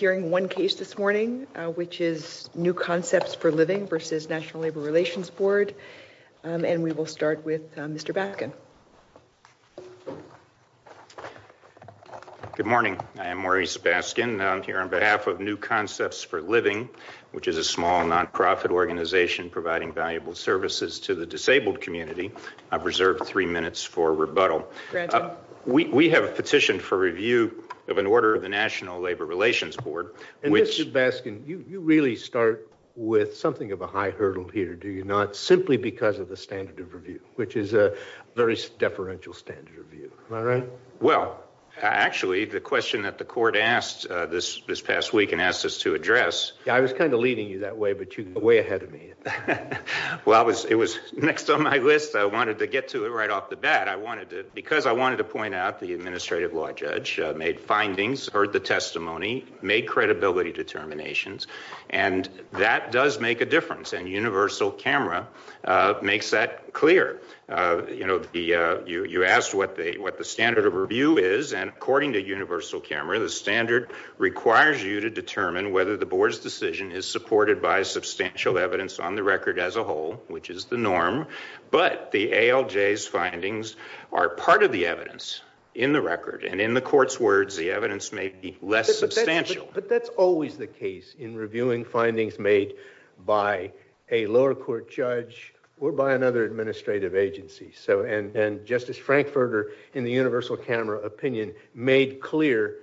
We will be hearing one case this morning, which is New Concepts for Living v. National Labor Relations Board, and we will start with Mr. Baskin. Good morning. I am Maurice Baskin. I'm here on behalf of New Concepts for Living, which is a small nonprofit organization providing valuable services to the disabled community. I've reserved three minutes for rebuttal. We have a petition for review of an order of the National Labor Relations Board, which— Mr. Baskin, you really start with something of a high hurdle here, do you not, simply because of the standard of review, which is a very deferential standard of review. Am I right? Well, actually, the question that the court asked this past week and asked us to address— I was kind of leading you that way, but you were way ahead of me. Well, it was next on my list. I wanted to get to it right off the bat. Because I wanted to point out the administrative law judge made findings, heard the testimony, made credibility determinations, and that does make a difference, and Universal Camera makes that clear. You asked what the standard of review is, and according to Universal Camera, the standard requires you to determine whether the board's decision is supported by substantial evidence on the record as a whole, which is the norm. But the ALJ's findings are part of the evidence in the record, and in the court's words, the evidence may be less substantial. But that's always the case in reviewing findings made by a lower court judge or by another administrative agency. And Justice Frankfurter, in the Universal Camera opinion, made clear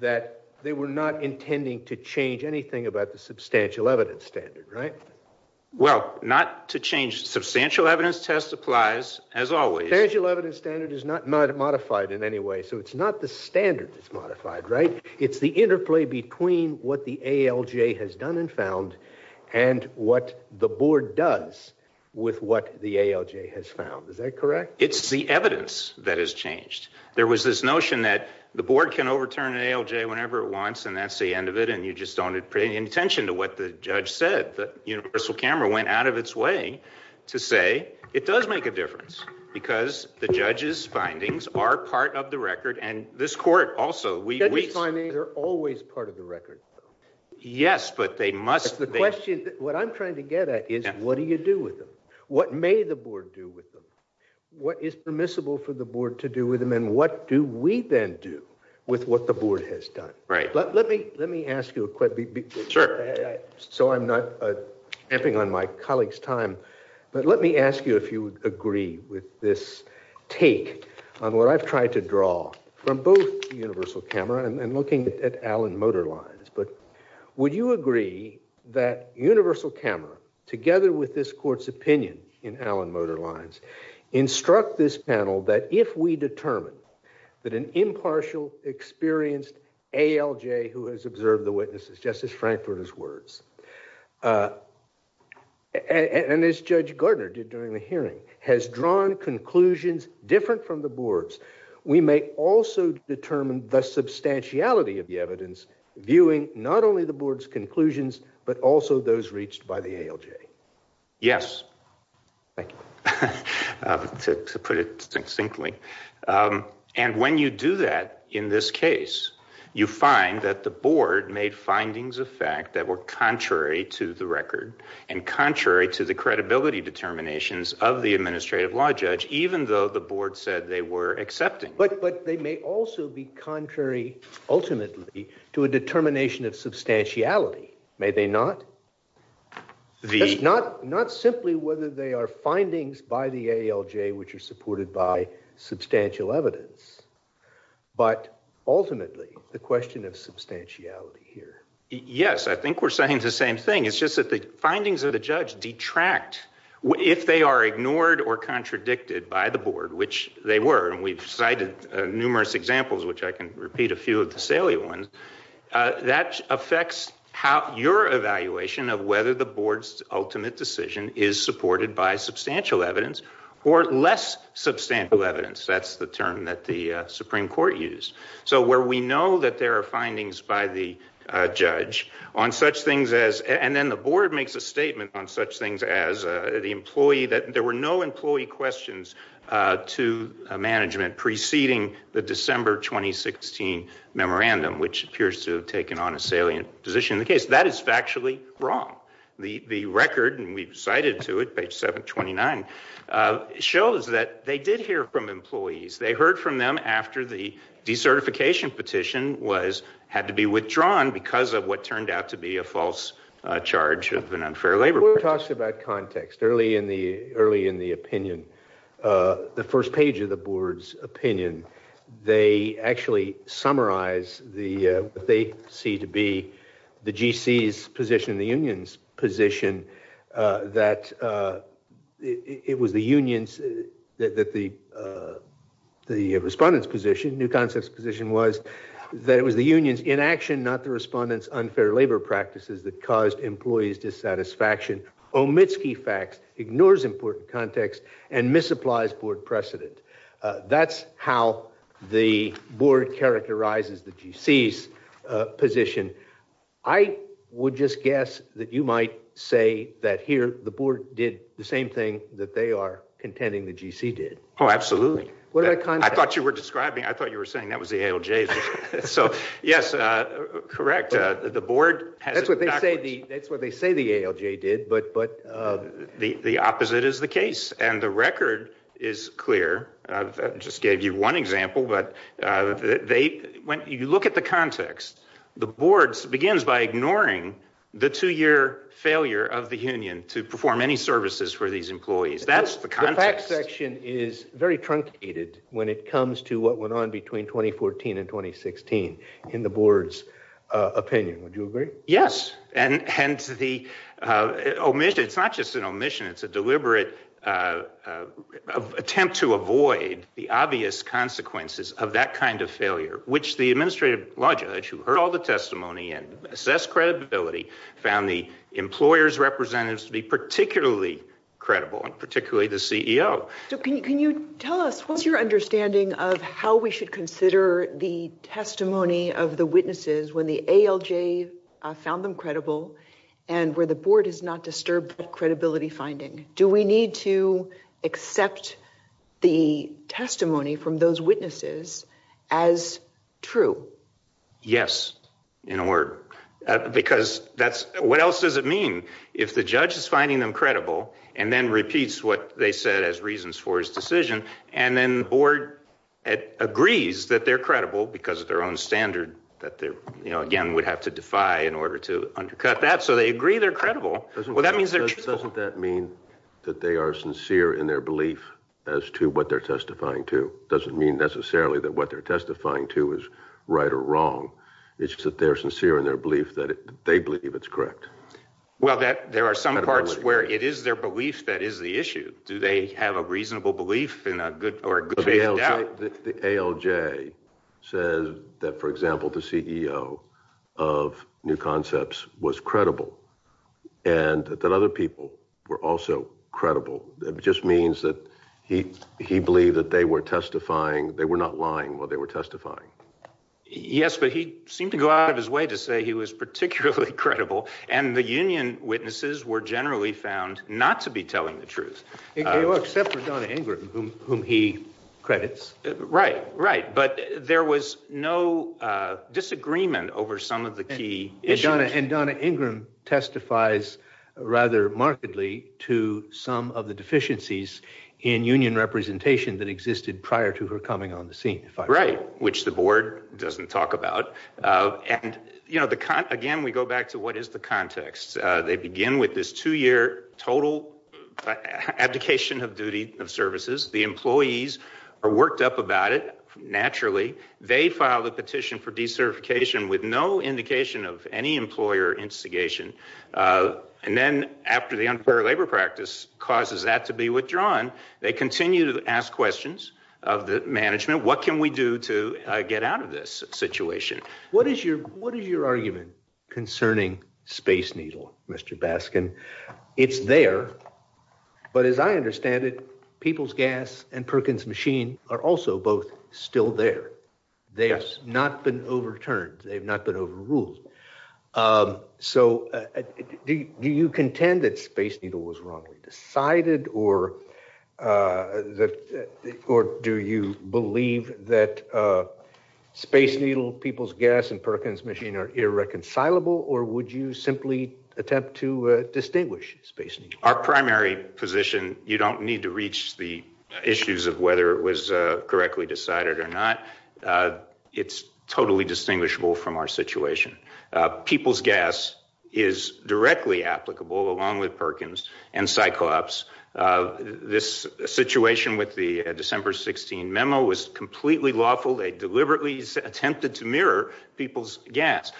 that they were not intending to change anything about the substantial evidence standard, right? Well, not to change—substantial evidence test applies, as always. The substantial evidence standard is not modified in any way, so it's not the standard that's modified, right? It's the interplay between what the ALJ has done and found and what the board does with what the ALJ has found. Is that correct? It's the evidence that has changed. There was this notion that the board can overturn an ALJ whenever it wants, and that's the end of it, and you just don't pay any attention to what the judge said. Universal Camera went out of its way to say it does make a difference because the judge's findings are part of the record, and this court also— Judge's findings are always part of the record. Yes, but they must— The question—what I'm trying to get at is what do you do with them? What may the board do with them? What is permissible for the board to do with them, and what do we then do with what the board has done? Right. Let me ask you a quick— Sure. So I'm not amping on my colleagues' time, but let me ask you if you would agree with this take on what I've tried to draw from both Universal Camera and looking at Allen Motor Lines. But would you agree that Universal Camera, together with this court's opinion in Allen Motor Lines, instruct this panel that if we determine that an impartial, experienced ALJ who has observed the witnesses— but also those reached by the ALJ? Yes. Thank you. To put it succinctly. And when you do that in this case, you find that the board made findings of fact that were contrary to the record and contrary to the credibility determinations of the administrative law judge, even though the board said they were accepting. But they may also be contrary, ultimately, to a determination of substantiality, may they not? The— Not simply whether they are findings by the ALJ which are supported by substantial evidence, but ultimately the question of substantiality here. Yes, I think we're saying the same thing. It's just that the findings of the judge detract if they are ignored or contradicted by the board, which they were. And we've cited numerous examples, which I can repeat a few of the salient ones. That affects how your evaluation of whether the board's ultimate decision is supported by substantial evidence or less substantial evidence. That's the term that the Supreme Court used. So where we know that there are findings by the judge on such things as—and then the board makes a statement on such things as the employee that there were no employee questions to management preceding the December 2016 memorandum, which appears to have taken on a salient position in the case. That is factually wrong. The record, and we've cited to it, page 729, shows that they did hear from employees. They heard from them after the decertification petition had to be withdrawn because of what turned out to be a false charge of an unfair labor— The board talks about context early in the opinion, the first page of the board's opinion. They actually summarize what they see to be the GC's position, the union's position, that it was the union's—that the respondent's position, new concept's position was that it was the union's inaction, not the respondent's unfair labor practices that caused employees dissatisfaction. Omitsky facts ignores important context and misapplies board precedent. That's how the board characterizes the GC's position. I would just guess that you might say that here the board did the same thing that they are contending the GC did. Oh, absolutely. I thought you were describing—I thought you were saying that was the ALJ's. So, yes, correct. The board has— That's what they say the ALJ did, but— The opposite is the case, and the record is clear. I just gave you one example, but they—when you look at the context, the board begins by ignoring the two-year failure of the union to perform any services for these employees. That's the context. The facts section is very truncated when it comes to what went on between 2014 and 2016 in the board's opinion. Would you agree? Yes. And the omission—it's not just an omission. It's a deliberate attempt to avoid the obvious consequences of that kind of failure, which the administrative lodger, who heard all the testimony and assessed credibility, found the employers' representatives to be particularly credible, and particularly the CEO. Can you tell us, what's your understanding of how we should consider the testimony of the witnesses when the ALJ found them credible and where the board has not disturbed credibility finding? Do we need to accept the testimony from those witnesses as true? Yes, in a word, because that's—what else does it mean? If the judge is finding them credible and then repeats what they said as reasons for his decision, and then the board agrees that they're credible because of their own standard that they, you know, again, would have to defy in order to undercut that, so they agree they're credible. Well, that means they're— Doesn't that mean that they are sincere in their belief as to what they're testifying to? Doesn't mean necessarily that what they're testifying to is right or wrong. It's just that they're sincere in their belief that they believe it's correct. Well, that—there are some parts where it is their belief that is the issue. Do they have a reasonable belief in a good—or a good faith doubt? The ALJ says that, for example, the CEO of New Concepts was credible and that other people were also credible. It just means that he believed that they were testifying—they were not lying while they were testifying. Yes, but he seemed to go out of his way to say he was particularly credible, and the union witnesses were generally found not to be telling the truth. Except for Donna Ingram, whom he credits. Right, right, but there was no disagreement over some of the key issues. And Donna Ingram testifies rather markedly to some of the deficiencies in union representation that existed prior to her coming on the scene, if I recall. Right, which the board doesn't talk about. And, you know, the—again, we go back to what is the context. They begin with this two-year total abdication of duty of services. The employees are worked up about it, naturally. They file a petition for decertification with no indication of any employer instigation. And then after the unfair labor practice causes that to be withdrawn, they continue to ask questions of the management. What can we do to get out of this situation? What is your argument concerning Space Needle, Mr. Baskin? It's there, but as I understand it, People's Gas and Perkins Machine are also both still there. They have not been overturned. They have not been overruled. So do you contend that Space Needle was wrongly decided? Or do you believe that Space Needle, People's Gas and Perkins Machine are irreconcilable? Or would you simply attempt to distinguish Space Needle? Our primary position, you don't need to reach the issues of whether it was correctly decided or not. It's totally distinguishable from our situation. People's Gas is directly applicable along with Perkins and Cyclops. This situation with the December 16 memo was completely lawful. They deliberately attempted to mirror People's Gas.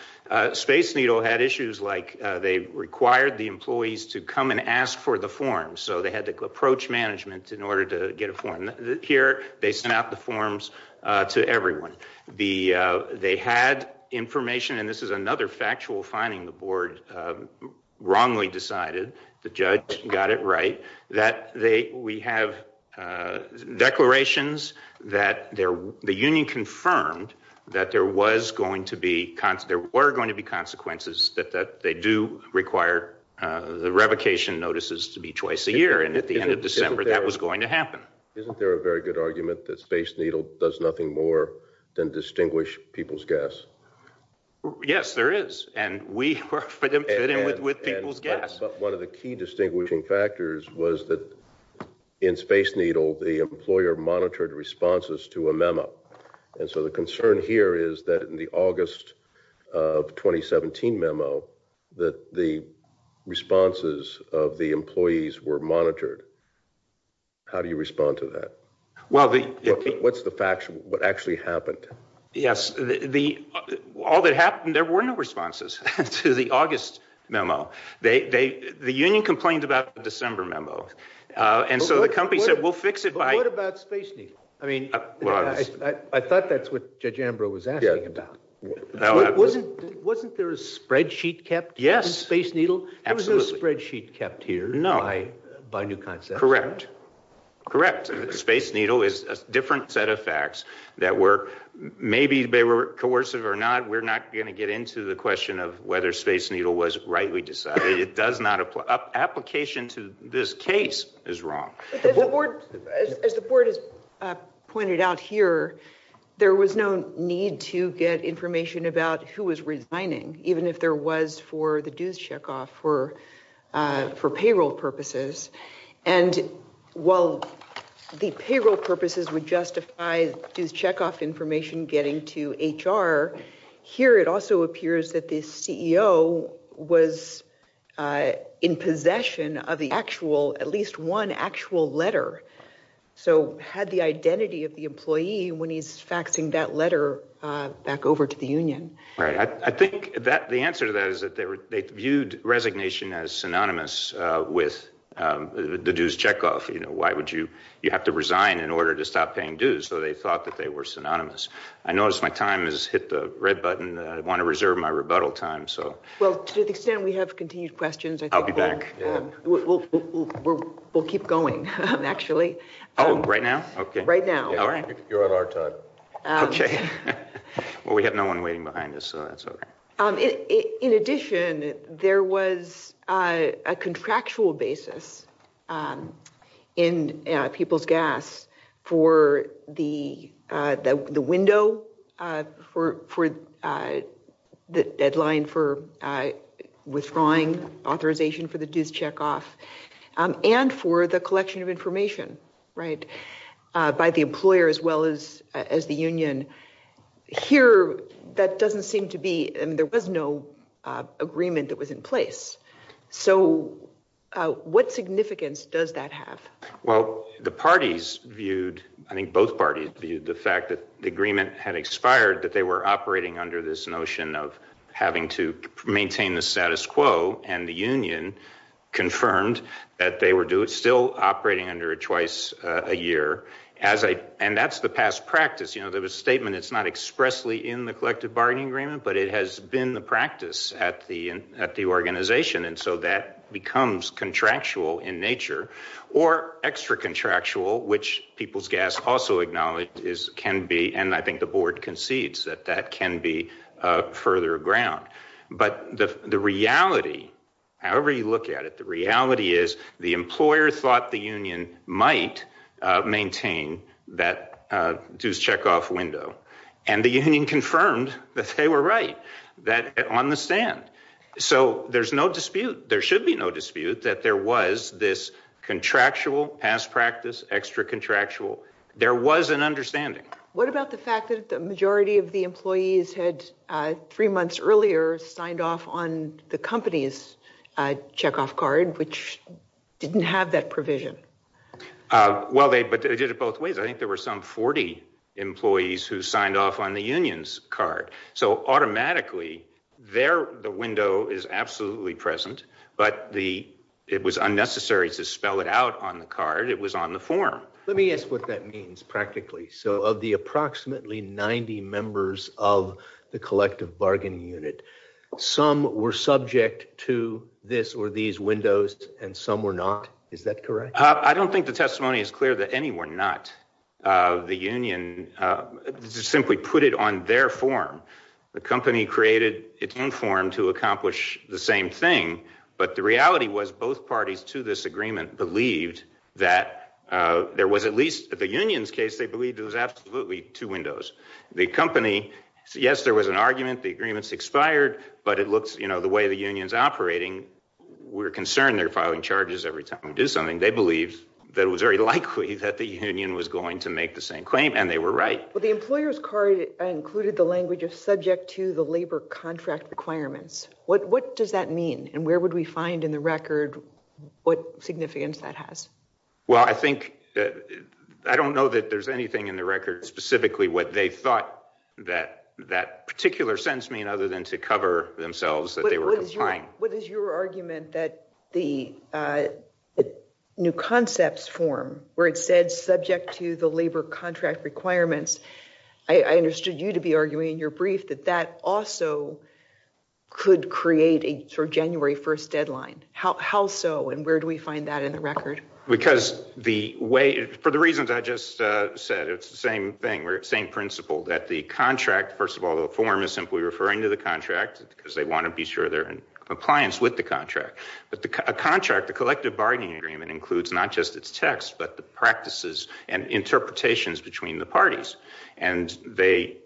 Space Needle had issues like they required the employees to come and ask for the forms. So they had to approach management in order to get a form. Here, they sent out the forms to everyone. They had information, and this is another factual finding the board wrongly decided, the judge got it right, that we have declarations that the union confirmed that there were going to be consequences, that they do require the revocation notices to be twice a year. And at the end of December, that was going to happen. Isn't there a very good argument that Space Needle does nothing more than distinguish People's Gas? Yes, there is, and we were fit in with People's Gas. But one of the key distinguishing factors was that in Space Needle, the employer monitored responses to a memo. And so the concern here is that in the August of 2017 memo, that the responses of the employees were monitored. How do you respond to that? What's the facts, what actually happened? Yes, all that happened, there were no responses to the August memo. The union complained about the December memo. And so the company said, we'll fix it by— But what about Space Needle? I thought that's what Judge Ambrose was asking about. Wasn't there a spreadsheet kept in Space Needle? There was no spreadsheet kept here by New Concept. Correct, correct. Space Needle is a different set of facts that were—maybe they were coercive or not. We're not going to get into the question of whether Space Needle was rightly decided. It does not—application to this case is wrong. As the board has pointed out here, there was no need to get information about who was resigning, even if there was for the dues checkoff for payroll purposes. And while the payroll purposes would justify dues checkoff information getting to HR, here it also appears that the CEO was in possession of the actual—at least one actual letter, so had the identity of the employee when he's faxing that letter back over to the union. I think the answer to that is that they viewed resignation as synonymous with the dues checkoff. Why would you have to resign in order to stop paying dues? So they thought that they were synonymous. I notice my time has hit the red button. I want to reserve my rebuttal time. Well, to the extent we have continued questions— I'll be back. We'll keep going, actually. Oh, right now? Right now. You're on our time. Okay. Well, we have no one waiting behind us, so that's okay. In addition, there was a contractual basis in People's Gas for the window for the deadline for withdrawing authorization for the dues checkoff and for the collection of information by the employer as well as the union. Here, that doesn't seem to be—there was no agreement that was in place. So what significance does that have? Well, the parties viewed—I think both parties viewed the fact that the agreement had expired, that they were operating under this notion of having to maintain the status quo, and the union confirmed that they were still operating under it twice a year. And that's the past practice. There was a statement. It's not expressly in the collective bargaining agreement, but it has been the practice at the organization, and so that becomes contractual in nature or extra-contractual, which People's Gas also acknowledged can be—and I think the board concedes that that can be further ground. But the reality, however you look at it, the reality is the employer thought the union might maintain that dues checkoff window, and the union confirmed that they were right on the stand. So there's no dispute—there should be no dispute that there was this contractual past practice, extra-contractual. There was an understanding. What about the fact that the majority of the employees had three months earlier signed off on the company's checkoff card, which didn't have that provision? Well, they did it both ways. I think there were some 40 employees who signed off on the union's card. So automatically, the window is absolutely present, but it was unnecessary to spell it out on the card. It was on the form. Let me ask what that means practically. So of the approximately 90 members of the collective bargaining unit, some were subject to this or these windows, and some were not. Is that correct? I don't think the testimony is clear that any were not. The union simply put it on their form. The company created its own form to accomplish the same thing, but the reality was both parties to this agreement believed that there was at least— at the union's case, they believed there was absolutely two windows. The company—yes, there was an argument. The agreement's expired, but it looks—you know, the way the union's operating, we're concerned they're filing charges every time we do something. They believed that it was very likely that the union was going to make the same claim, and they were right. Well, the employer's card included the language of subject to the labor contract requirements. What does that mean, and where would we find in the record what significance that has? Well, I think—I don't know that there's anything in the record specifically what they thought that that particular sentence meant other than to cover themselves that they were complying. What is your argument that the new concepts form where it said subject to the labor contract requirements— I understood you to be arguing in your brief that that also could create a sort of January 1st deadline. How so, and where do we find that in the record? Because the way—for the reasons I just said, it's the same thing, same principle, that the contract— compliance with the contract. A contract, the collective bargaining agreement, includes not just its text but the practices and interpretations between the parties. And they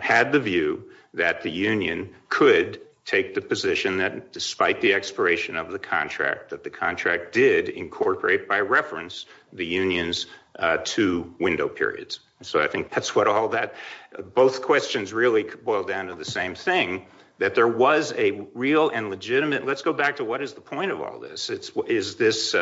had the view that the union could take the position that despite the expiration of the contract, that the contract did incorporate by reference the union's two window periods. So I think that's what all that—both questions really boil down to the same thing, that there was a real and legitimate— let's go back to what is the point of all this. Is this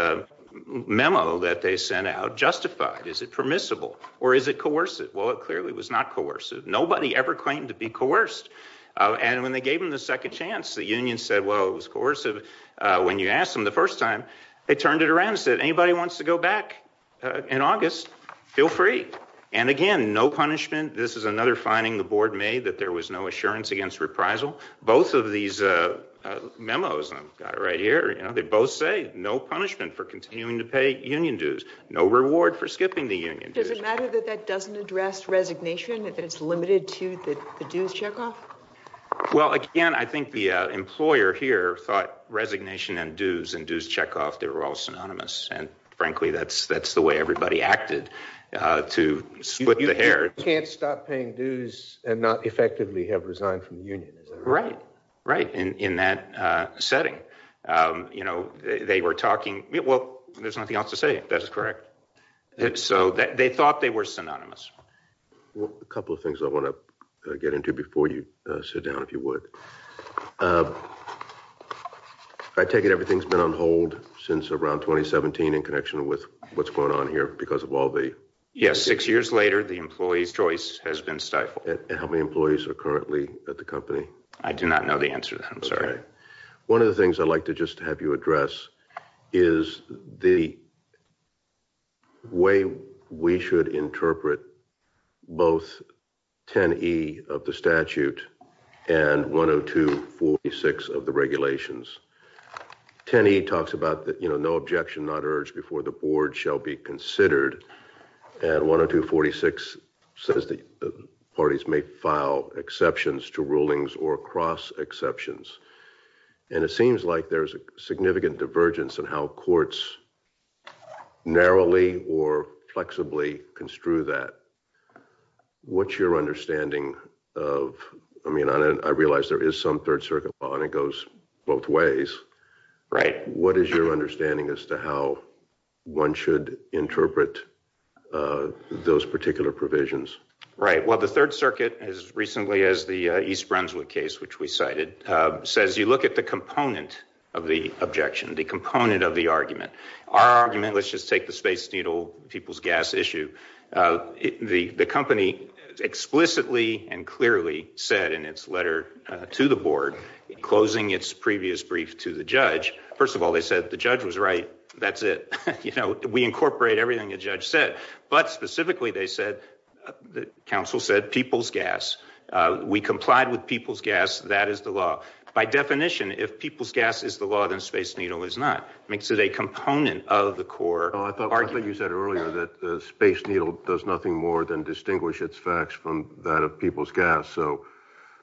memo that they sent out justified? Is it permissible? Or is it coercive? Well, it clearly was not coercive. Nobody ever claimed to be coerced. And when they gave them the second chance, the union said, well, it was coercive. When you asked them the first time, they turned it around and said, anybody wants to go back in August, feel free. And again, no punishment. This is another finding the board made, that there was no assurance against reprisal. Both of these memos I've got right here, they both say no punishment for continuing to pay union dues, no reward for skipping the union dues. Does it matter that that doesn't address resignation, that it's limited to the dues checkoff? Well, again, I think the employer here thought resignation and dues and dues checkoff, they were all synonymous. And frankly, that's the way everybody acted to split the hair. You can't stop paying dues and not effectively have resigned from the union. Right, right, in that setting. You know, they were talking—well, there's nothing else to say. That's correct. So they thought they were synonymous. A couple of things I want to get into before you sit down, if you would. I take it everything's been on hold since around 2017 in connection with what's going on here because of all the— Yes, six years later, the employee's choice has been stifled. And how many employees are currently at the company? I do not know the answer to that, I'm sorry. One of the things I'd like to just have you address is the way we should interpret both 10E of the statute and 102-46 of the regulations. 10E talks about, you know, no objection, not urged before the board shall be considered. And 102-46 says that parties may file exceptions to rulings or cross exceptions. And it seems like there's a significant divergence in how courts narrowly or flexibly construe that. What's your understanding of—I mean, I realize there is some Third Circuit law and it goes both ways. Right. What is your understanding as to how one should interpret those particular provisions? Right. Well, the Third Circuit, as recently as the East Brunswick case, which we cited, says you look at the component of the objection, the component of the argument. Our argument—let's just take the Space Needle, people's gas issue. The company explicitly and clearly said in its letter to the board, closing its previous brief to the judge, first of all, they said the judge was right. That's it. You know, we incorporate everything the judge said. But specifically, they said—the counsel said people's gas. We complied with people's gas. That is the law. By definition, if people's gas is the law, then Space Needle is not. It makes it a component of the core argument. I thought you said earlier that Space Needle does nothing more than distinguish its facts from that of people's gas. So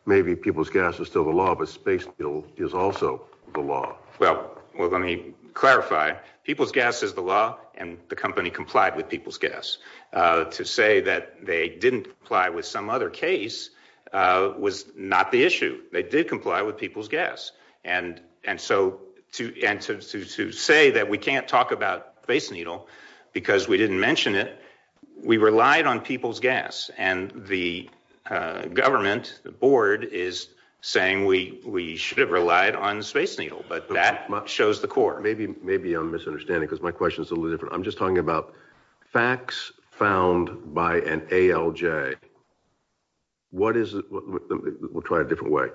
maybe people's gas is still the law, but Space Needle is also the law. Well, let me clarify. People's gas is the law, and the company complied with people's gas. To say that they didn't comply with some other case was not the issue. They did comply with people's gas. And so to say that we can't talk about Space Needle because we didn't mention it, we relied on people's gas. And the government, the board, is saying we should have relied on Space Needle. But that shows the core. Maybe I'm misunderstanding because my question is a little different. I'm just talking about facts found by an ALJ. What is—we'll try it a different way.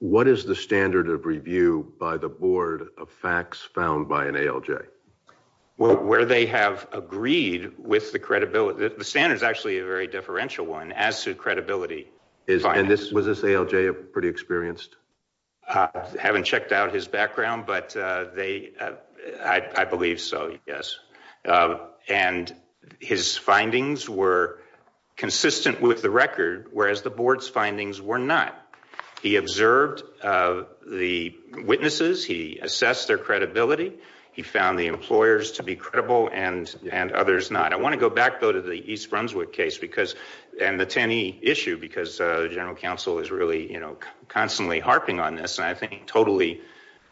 What is the standard of review by the board of facts found by an ALJ? Well, where they have agreed with the credibility—the standard is actually a very differential one as to credibility. And was this ALJ pretty experienced? I haven't checked out his background, but they—I believe so, yes. And his findings were consistent with the record, whereas the board's findings were not. He observed the witnesses. He assessed their credibility. He found the employers to be credible and others not. I want to go back, though, to the East Brunswick case because—and the Tenney issue because the general counsel is really, you know, constantly harping on this, and I think totally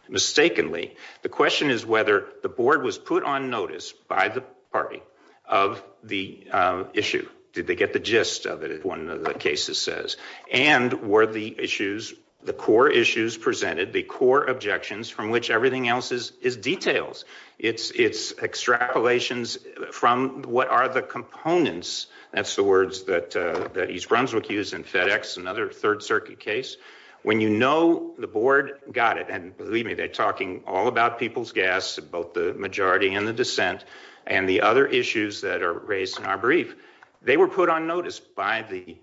mistakenly. The question is whether the board was put on notice by the party of the issue. Did they get the gist of it, as one of the cases says? And were the issues—the core issues presented, the core objections from which everything else is details, it's extrapolations from what are the components—that's the words that East Brunswick used in FedEx, another Third Circuit case. When you know the board got it, and believe me, they're talking all about people's gas, both the majority and the dissent, and the other issues that are raised in our brief. They were put on notice by the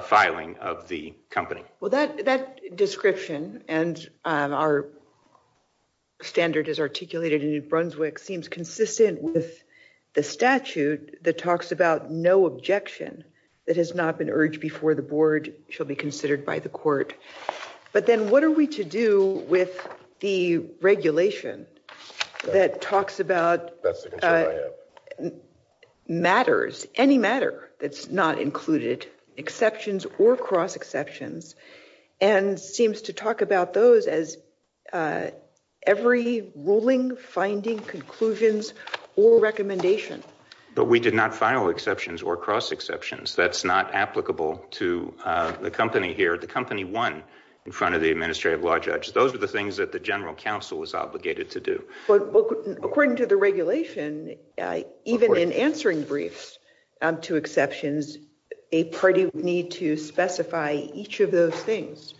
filing of the company. Well, that description, and our standard is articulated in New Brunswick, seems consistent with the statute that talks about no objection that has not been urged before the board shall be considered by the court. But then what are we to do with the regulation that talks about— That's the concern I have. Matters, any matter that's not included, exceptions or cross-exceptions, and seems to talk about those as every ruling, finding, conclusions, or recommendation. But we did not file exceptions or cross-exceptions. That's not applicable to the company here. The company won in front of the administrative law judge. Those are the things that the general counsel was obligated to do. According to the regulation, even in answering briefs to exceptions, a party would need to specify each of those things.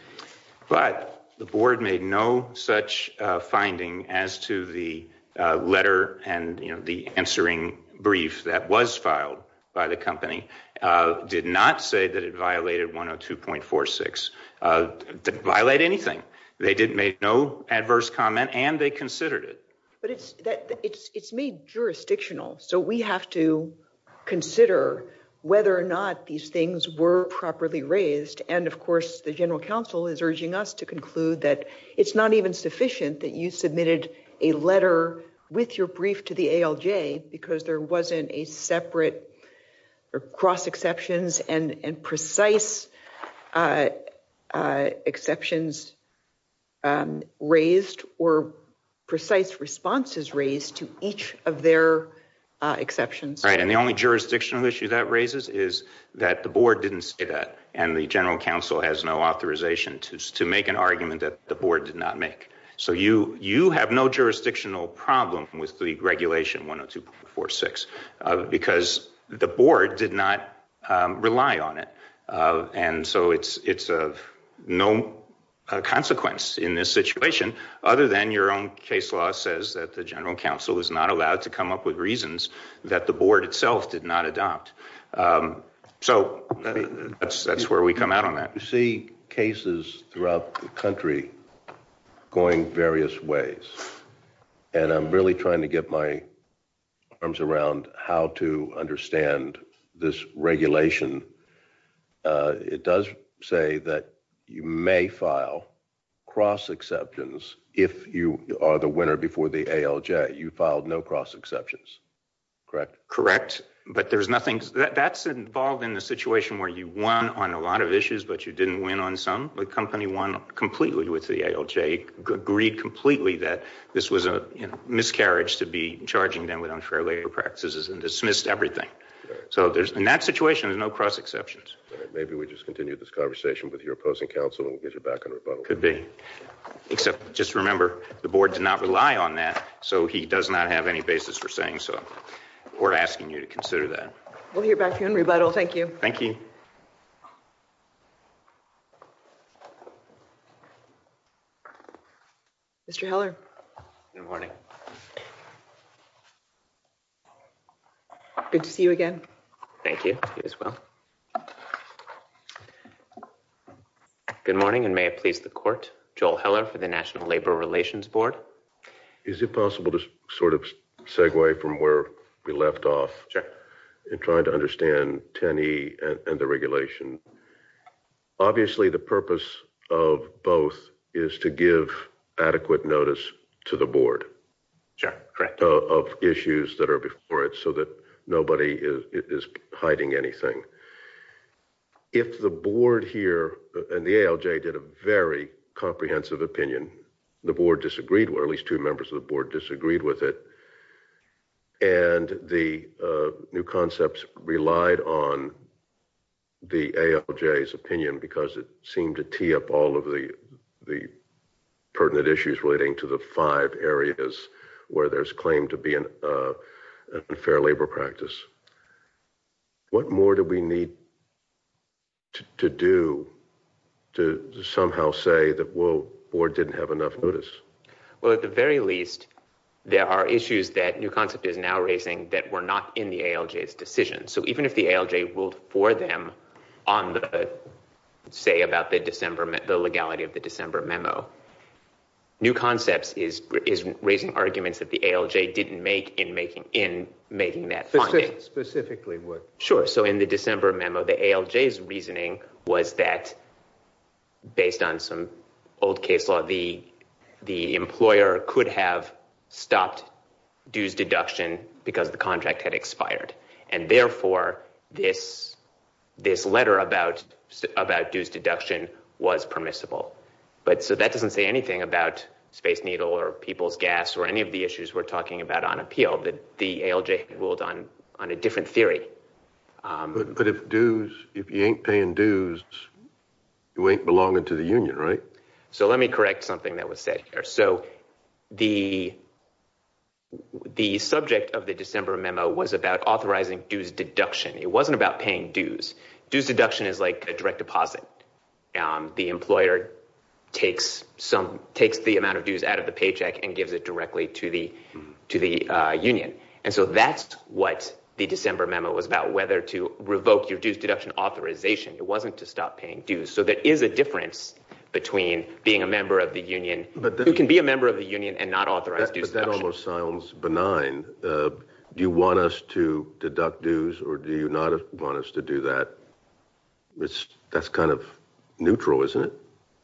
But the board made no such finding as to the letter and the answering brief that was filed by the company. Did not say that it violated 102.46. It didn't violate anything. They made no adverse comment, and they considered it. But it's made jurisdictional, so we have to consider whether or not these things were properly raised. And, of course, the general counsel is urging us to conclude that it's not even sufficient that you submitted a letter with your brief to the ALJ because there wasn't a separate cross-exceptions and precise exceptions raised or precise responses raised to each of their exceptions. Right, and the only jurisdictional issue that raises is that the board didn't say that, and the general counsel has no authorization to make an argument that the board did not make. So you have no jurisdictional problem with the regulation 102.46 because the board did not rely on it. And so it's of no consequence in this situation other than your own case law says that the general counsel is not allowed to come up with reasons that the board itself did not adopt. So that's where we come out on that. You see cases throughout the country going various ways, and I'm really trying to get my arms around how to understand this regulation. It does say that you may file cross-exceptions if you are the winner before the ALJ. You filed no cross-exceptions, correct? Correct, but that's involved in the situation where you won on a lot of issues but you didn't win on some. The company won completely with the ALJ, agreed completely that this was a miscarriage to be charging them with unfair labor practices and dismissed everything. So in that situation, there's no cross-exceptions. Maybe we just continue this conversation with your opposing counsel and we'll get you back on rebuttal. Could be, except just remember the board did not rely on that, so he does not have any basis for saying so. We're asking you to consider that. We'll hear back from you on rebuttal. Thank you. Thank you. Mr. Heller. Good morning. Good to see you again. Thank you. You as well. Good morning and may it please the court. Joel Heller for the National Labor Relations Board. Is it possible to sort of segue from where we left off in trying to understand 10E and the regulation? Obviously the purpose of both is to give adequate notice to the board of issues that are before it so that nobody is hiding anything. If the board here and the ALJ did a very comprehensive opinion, the board disagreed with it, at least two members of the board disagreed with it, and the new concepts relied on the ALJ's opinion because it seemed to tee up all of the pertinent issues relating to the five areas where there's claim to be an unfair labor practice, what more do we need to do to somehow say that the board didn't have enough notice? Well, at the very least, there are issues that new concept is now raising that were not in the ALJ's decision. So even if the ALJ ruled for them on the say about the legality of the December memo, new concepts is raising arguments that the ALJ didn't make in making that finding. Specifically what? Sure. So in the December memo, the ALJ's reasoning was that based on some old case law, the employer could have stopped dues deduction because the contract had expired. And therefore, this letter about dues deduction was permissible. So that doesn't say anything about Space Needle or people's gas or any of the issues we're talking about on appeal. The ALJ ruled on a different theory. But if dues, if you ain't paying dues, you ain't belonging to the union, right? So let me correct something that was said here. So the subject of the December memo was about authorizing dues deduction. It wasn't about paying dues. Dues deduction is like a direct deposit. The employer takes the amount of dues out of the paycheck and gives it directly to the union. And so that's what the December memo was about, whether to revoke your dues deduction authorization. It wasn't to stop paying dues. So there is a difference between being a member of the union. You can be a member of the union and not authorize dues deduction. But that almost sounds benign. Do you want us to deduct dues or do you not want us to do that? That's kind of neutral, isn't it?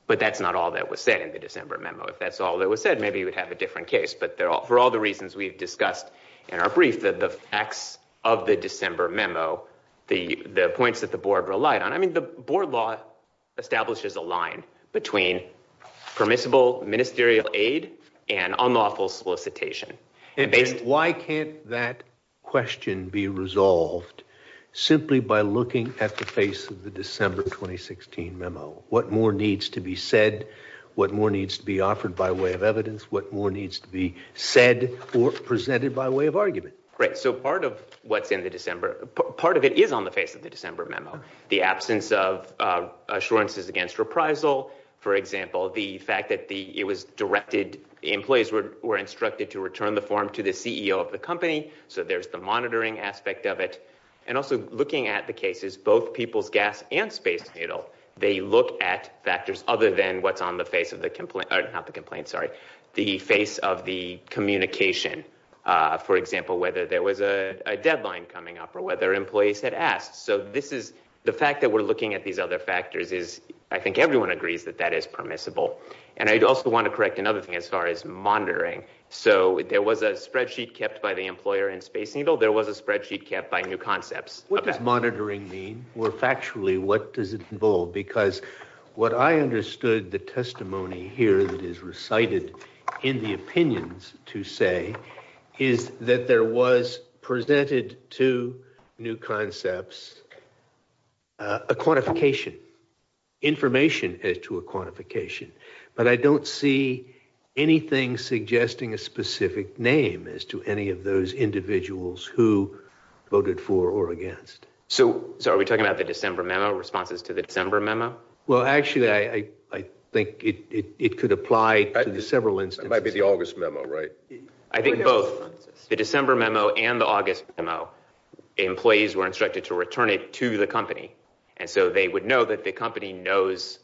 But that's not all that was said in the December memo. If that's all that was said, maybe you would have a different case. But for all the reasons we've discussed in our brief, the facts of the December memo, the points that the board relied on. I mean the board law establishes a line between permissible ministerial aid and unlawful solicitation. Why can't that question be resolved simply by looking at the face of the December 2016 memo? What more needs to be said? What more needs to be offered by way of evidence? What more needs to be said or presented by way of argument? Right, so part of what's in the December, part of it is on the face of the December memo. The absence of assurances against reprisal, for example. The fact that it was directed, employees were instructed to return the form to the CEO of the company. So there's the monitoring aspect of it. And also looking at the cases, both People's Gas and Space Needle, they look at factors other than what's on the face of the complaint. Not the complaint, sorry. The face of the communication. For example, whether there was a deadline coming up or whether employees had asked. So this is, the fact that we're looking at these other factors is, I think everyone agrees that that is permissible. And I'd also want to correct another thing as far as monitoring. So there was a spreadsheet kept by the employer in Space Needle. There was a spreadsheet kept by New Concepts. What does monitoring mean? Or factually, what does it involve? Because what I understood the testimony here that is recited in the opinions to say is that there was presented to New Concepts a quantification. Information as to a quantification. But I don't see anything suggesting a specific name as to any of those individuals who voted for or against. So are we talking about the December memo, responses to the December memo? Well, actually, I think it could apply to several instances. That might be the August memo, right? I think both the December memo and the August memo, employees were instructed to return it to the company. And so they would know that the company knows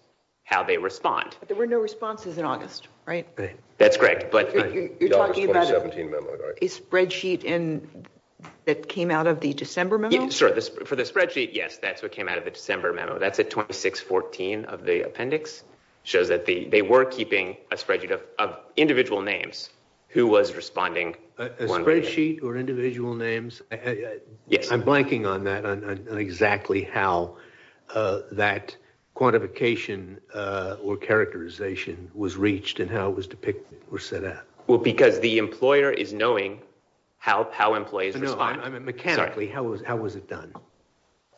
how they respond. But there were no responses in August, right? That's correct. You're talking about a spreadsheet that came out of the December memo? For the spreadsheet, yes. That's what came out of the December memo. That's at 2614 of the appendix. It shows that they were keeping a spreadsheet of individual names who was responding. A spreadsheet or individual names? Yes. I'm blanking on that, on exactly how that quantification or characterization was reached and how it was depicted or set up. Well, because the employer is knowing how employees respond. Mechanically, how was it done?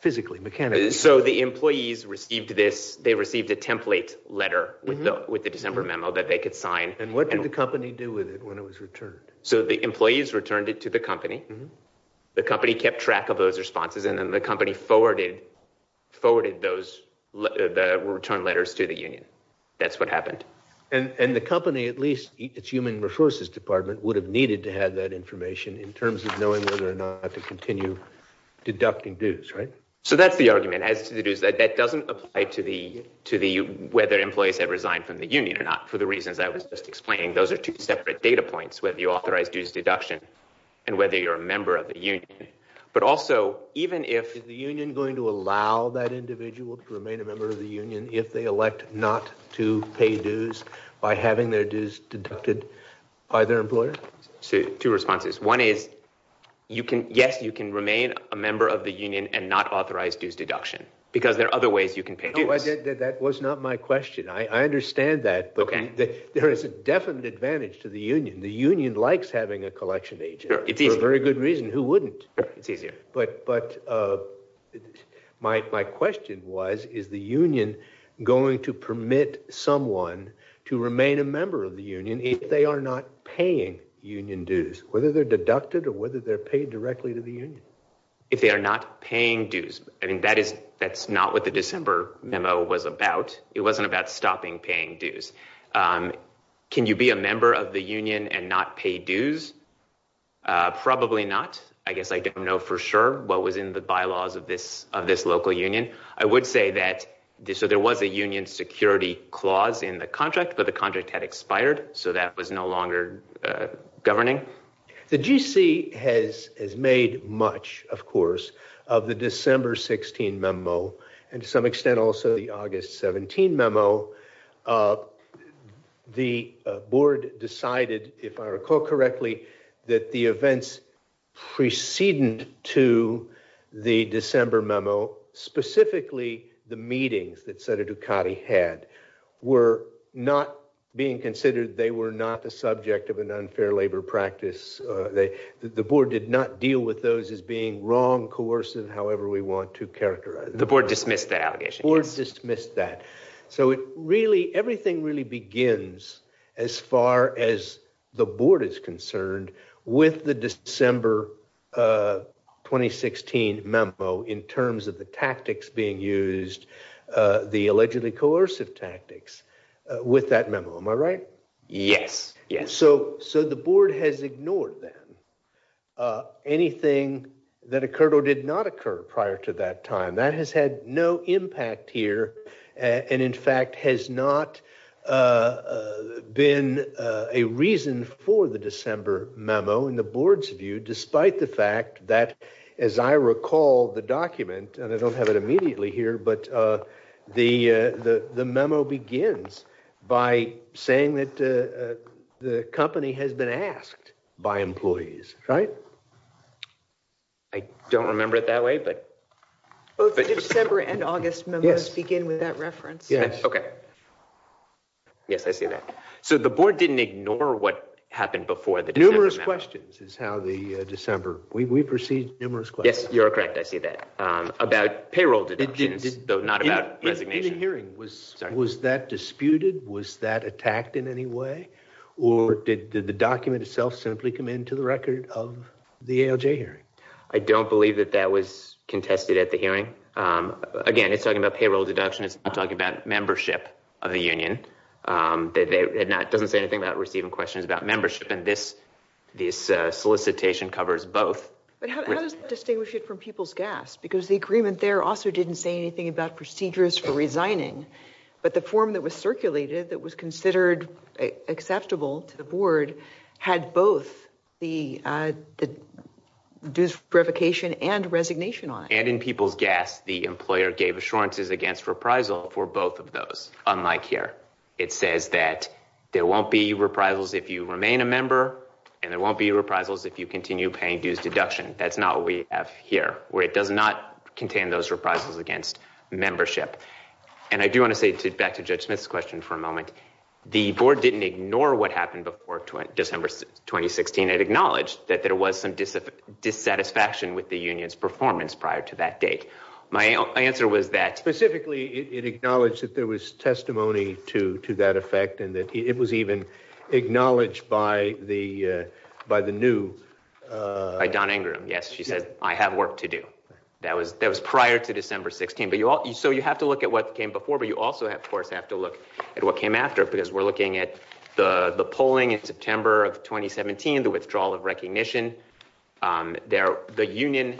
Physically, mechanically. So the employees received this. They received a template letter with the December memo that they could sign. And what did the company do with it when it was returned? So the employees returned it to the company. The company kept track of those responses. And then the company forwarded those return letters to the union. That's what happened. And the company, at least its human resources department, would have needed to have that information in terms of knowing whether or not to continue deducting dues, right? So that's the argument as to the dues. That doesn't apply to the whether employees have resigned from the union or not for the reasons I was just explaining. Those are two separate data points, whether you authorize dues deduction and whether you're a member of the union. Is the union going to allow that individual to remain a member of the union if they elect not to pay dues by having their dues deducted by their employer? Two responses. One is, yes, you can remain a member of the union and not authorize dues deduction because there are other ways you can pay dues. That was not my question. I understand that. But there is a definite advantage to the union. The union likes having a collection agent for a very good reason. Who wouldn't? It's easier. But my question was, is the union going to permit someone to remain a member of the union if they are not paying union dues, whether they're deducted or whether they're paid directly to the union? If they are not paying dues. I mean, that is that's not what the December memo was about. It wasn't about stopping paying dues. Can you be a member of the union and not pay dues? Probably not. I guess I don't know for sure what was in the bylaws of this of this local union. I would say that there was a union security clause in the contract, but the contract had expired. So that was no longer governing. The GC has made much, of course, of the December 16 memo and to some extent also the August 17 memo. The board decided, if I recall correctly, that the events preceding to the December memo, specifically the meetings that Senator Ducati had, were not being considered. They were not the subject of an unfair labor practice. The board did not deal with those as being wrong, coercive, however we want to characterize it. The board dismissed that allegation. So it really everything really begins as far as the board is concerned with the December 2016 memo in terms of the tactics being used, the allegedly coercive tactics with that memo. Am I right? Yes. Yes. So so the board has ignored that. Anything that occurred or did not occur prior to that time that has had no impact here. And in fact, has not been a reason for the December memo in the board's view, despite the fact that, as I recall the document, and I don't have it immediately here, but the the the memo begins by saying that the company has been asked by employees. Right. I don't remember it that way. Both December and August memo begin with that reference. Yes. OK. Yes, I see that. So the board didn't ignore what happened before the numerous questions is how the December we proceed. Numerous questions. You're correct. I see that about payroll deductions, though not about resignation. The hearing was was that disputed? Was that attacked in any way? Or did the document itself simply come into the record of the ALJ hearing? I don't believe that that was contested at the hearing. Again, it's talking about payroll deduction. It's talking about membership of the union. They had not doesn't say anything about receiving questions about membership. And this this solicitation covers both. But how does distinguish it from people's gas? Because the agreement there also didn't say anything about procedures for resigning. But the form that was circulated that was considered acceptable to the board had both the dues revocation and resignation. And in people's gas, the employer gave assurances against reprisal for both of those. Unlike here, it says that there won't be reprisals if you remain a member and there won't be reprisals if you continue paying dues deduction. That's not what we have here, where it does not contain those reprisals against membership. And I do want to say back to Judge Smith's question for a moment. The board didn't ignore what happened before December 2016. It acknowledged that there was some dissatisfaction with the union's performance prior to that date. My answer was that specifically it acknowledged that there was testimony to to that effect and that it was even acknowledged by the by the new. Don Ingram. Yes, she said, I have work to do. That was that was prior to December 16. But you also you have to look at what came before. But you also have to look at what came after. Because we're looking at the polling in September of 2017, the withdrawal of recognition there. The union,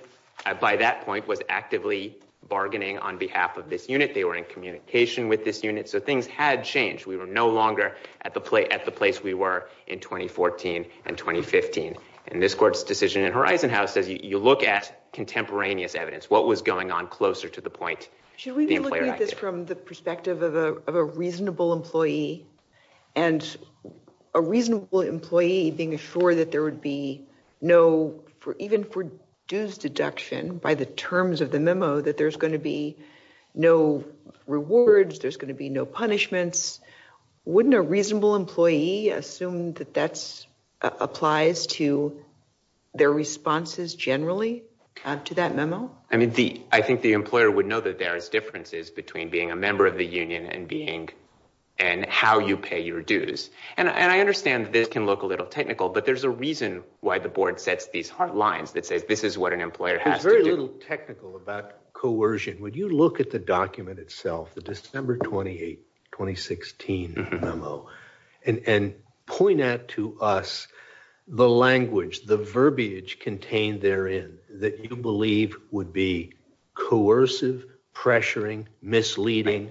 by that point, was actively bargaining on behalf of this unit. They were in communication with this unit. So things had changed. We were no longer at the play at the place we were in 2014 and 2015. And this court's decision in Horizon House says you look at contemporaneous evidence. What was going on closer to the point? Should we look at this from the perspective of a reasonable employee? And a reasonable employee being assured that there would be no for even for dues deduction by the terms of the memo, that there's going to be no rewards, there's going to be no punishments. Wouldn't a reasonable employee assume that that's applies to their responses generally to that memo? I mean, the I think the employer would know that there is differences between being a member of the union and being and how you pay your dues. And I understand this can look a little technical, but there's a reason why the board sets these lines that says this is what an employer has. Very little technical about coercion. Would you look at the document itself, the December 28, 2016 memo and point out to us the language, the verbiage contained therein that you believe would be coercive, pressuring, misleading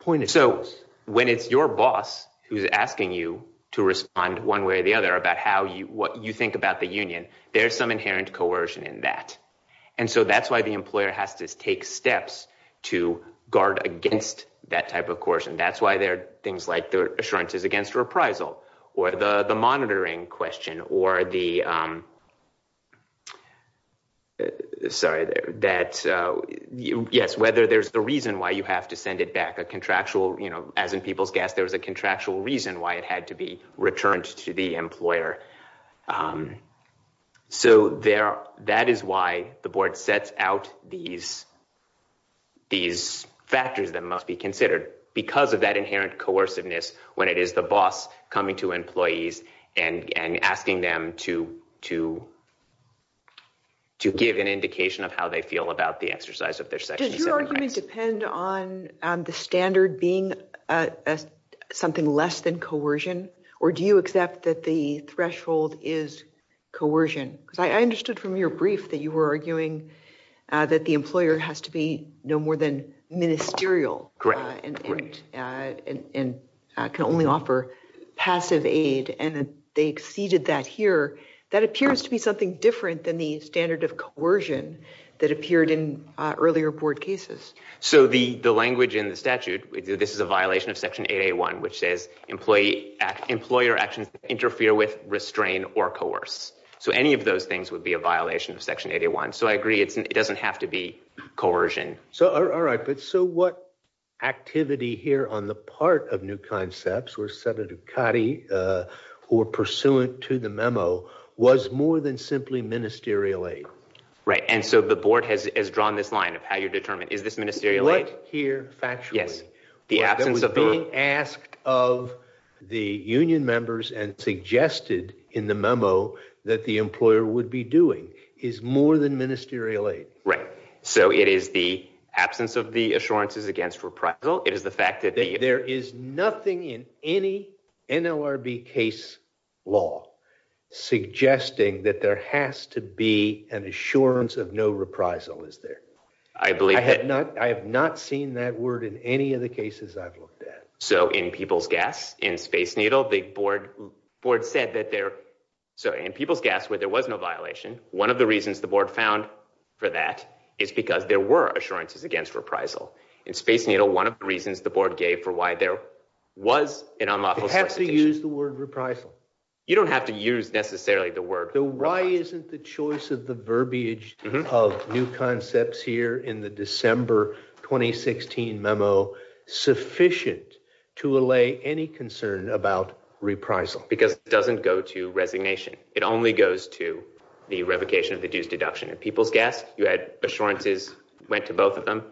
point. So when it's your boss who's asking you to respond one way or the other about how you what you think about the union, there's some inherent coercion in that. And so that's why the employer has to take steps to guard against that type of coercion. That's why there are things like the assurances against reprisal or the monitoring question or the. Sorry that yes, whether there's the reason why you have to send it back a contractual, you know, as in people's gas, there was a contractual reason why it had to be returned to the employer. So there that is why the board sets out these. These factors that must be considered because of that inherent coerciveness, when it is the boss coming to employees and asking them to to to give an indication of how they feel about the exercise of their section. Your argument depend on the standard being something less than coercion. Or do you accept that the threshold is coercion? Because I understood from your brief that you were arguing that the employer has to be no more than ministerial. Great. And I can only offer passive aid. And they exceeded that here. That appears to be something different than the standard of coercion that appeared in earlier board cases. So the the language in the statute, this is a violation of Section 81, which says employee employer actions interfere with restrain or coerce. So any of those things would be a violation of Section 81. So I agree. It doesn't have to be coercion. So. All right. But so what activity here on the part of new concepts or set of Ducati or pursuant to the memo was more than simply ministerial aid. Right. And so the board has drawn this line of how you determine is this ministerial aid here? Yes. The absence of being asked of the union members and suggested in the memo that the employer would be doing is more than ministerial aid. Right. So it is the absence of the assurances against reprisal. It is the fact that there is nothing in any NLRB case law suggesting that there has to be an assurance of no reprisal. Is there? I believe I have not. I have not seen that word in any of the cases I've looked at. So in people's gas in Space Needle, the board board said that they're so in people's gas where there was no violation. One of the reasons the board found for that is because there were assurances against reprisal in Space Needle. One of the reasons the board gave for why there was an unlawful. You use the word reprisal. You don't have to use necessarily the word. Why isn't the choice of the verbiage of new concepts here in the December 2016 memo sufficient to allay any concern about reprisal? Because it doesn't go to resignation. It only goes to the revocation of the dues deduction in people's gas. You had assurances went to both of them.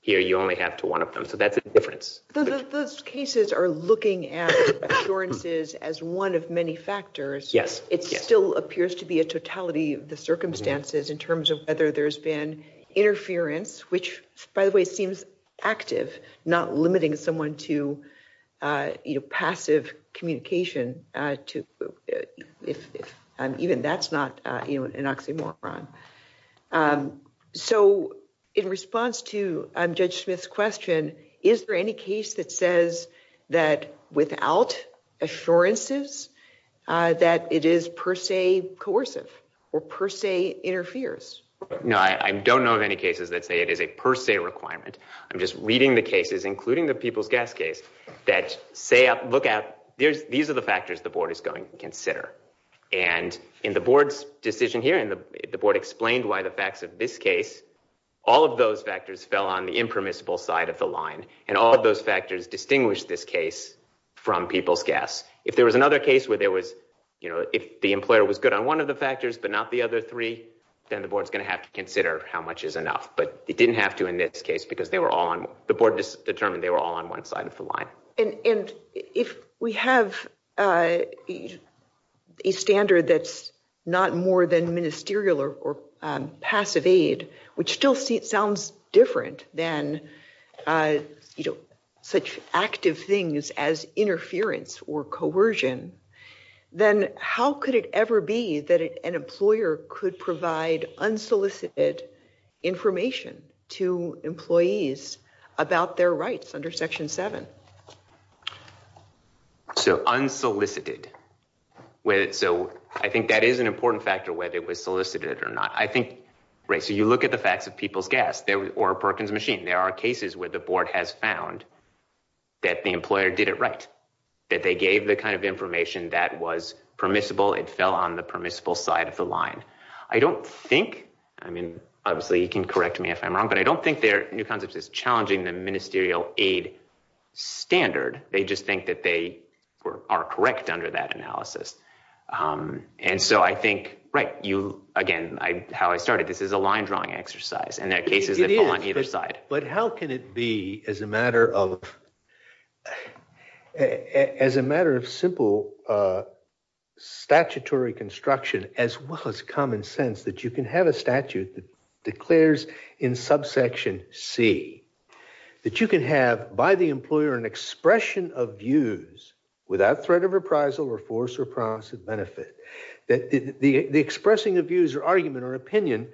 Here you only have to one of them. So that's a difference. Those cases are looking at assurances as one of many factors. Yes. It still appears to be a totality of the circumstances in terms of whether there's been interference, which, by the way, seems active, not limiting someone to passive communication to if even that's not an oxymoron. So in response to Judge Smith's question, is there any case that says that without assurances that it is per se coercive or per se interferes? No, I don't know of any cases that say it is a per se requirement. I'm just reading the cases, including the people's gas case that say, look out. These are the factors the board is going to consider. And in the board's decision here and the board explained why the facts of this case, all of those factors fell on the impermissible side of the line. And all of those factors distinguish this case from people's gas. If there was another case where there was, you know, if the employer was good on one of the factors, but not the other three, then the board's going to have to consider how much is enough. But it didn't have to in this case because they were all on the board determined they were all on one side of the line. And if we have a standard that's not more than ministerial or passive aid, which still sounds different than, you know, such active things as interference or coercion, then how could it ever be that an employer could provide unsolicited information to employees about their rights under section seven? So unsolicited. So I think that is an important factor, whether it was solicited or not. I think. Right. So you look at the facts of people's gas or Perkins machine. There are cases where the board has found that the employer did it right, that they gave the kind of information that was permissible. It fell on the permissible side of the line. I don't think I mean, obviously, you can correct me if I'm wrong, but I don't think their new concept is challenging the ministerial aid standard. They just think that they are correct under that analysis. And so I think. Right. You again. How I started. This is a line drawing exercise and there are cases on either side. But how can it be as a matter of as a matter of simple statutory construction, as well as common sense that you can have a statute that declares in subsection C that you can have by the employer, an expression of views without threat of appraisal or force or promise of benefit, that the expressing of views or argument or opinion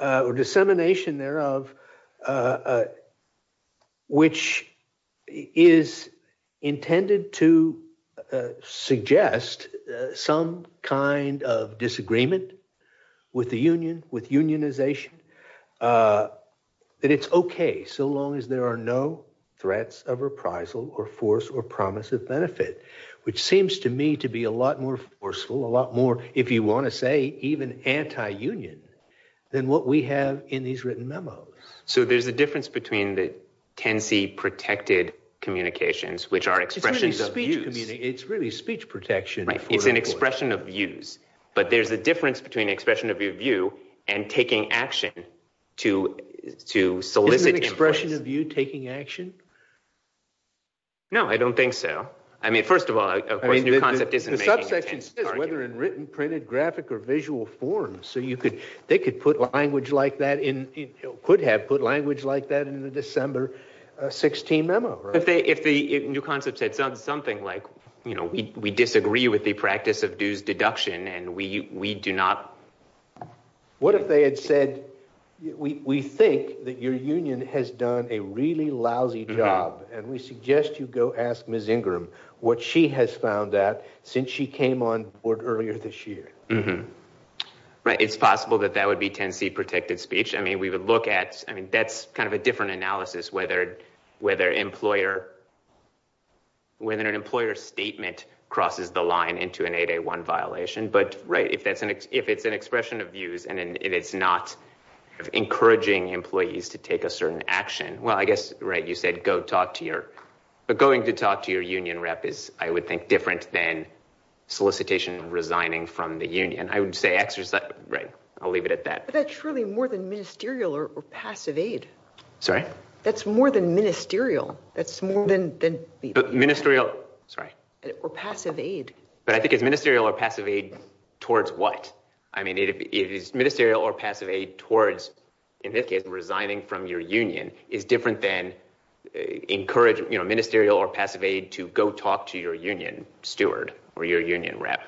or dissemination thereof, which is intended to suggest some kind of disagreement with the union, with unionization, that it's OK so long as there are no threats of appraisal or force or promise of benefit, which seems to me to be a lot more forceful, a lot more, if you want to say, even anti-union than what we have in these written memos. So there's a difference between the Tennessee protected communications, which are expressions of you. It's really speech protection. Right. It's an expression of views. But there's a difference between expression of view and taking action to to solicit an expression of you taking action. No, I don't think so. I mean, first of all, I mean, the concept is whether in written, printed, graphic or visual form. So you could they could put language like that in could have put language like that in the December 16 memo. If they if the new concept said something like, you know, we disagree with the practice of dues deduction and we we do not. What if they had said, we think that your union has done a really lousy job and we suggest you go ask Ms. Ingram what she has found that since she came on board earlier this year. Right. It's possible that that would be Tennessee protected speech. I mean, we would look at I mean, that's kind of a different analysis, whether whether employer. When an employer statement crosses the line into an 8-1 violation. But right. If that's an if it's an expression of views and it's not encouraging employees to take a certain action. Well, I guess. Right. You said go talk to your going to talk to your union rep is, I would think, different than solicitation resigning from the union. I would say exercise. Right. I'll leave it at that. That's really more than ministerial or passive aid. Sorry. That's more than ministerial. That's more than ministerial. Sorry. Or passive aid. But I think it's ministerial or passive aid towards what? I mean, it is ministerial or passive aid towards, in this case, resigning from your union is different than encourage ministerial or passive aid to go talk to your union steward or your union rep.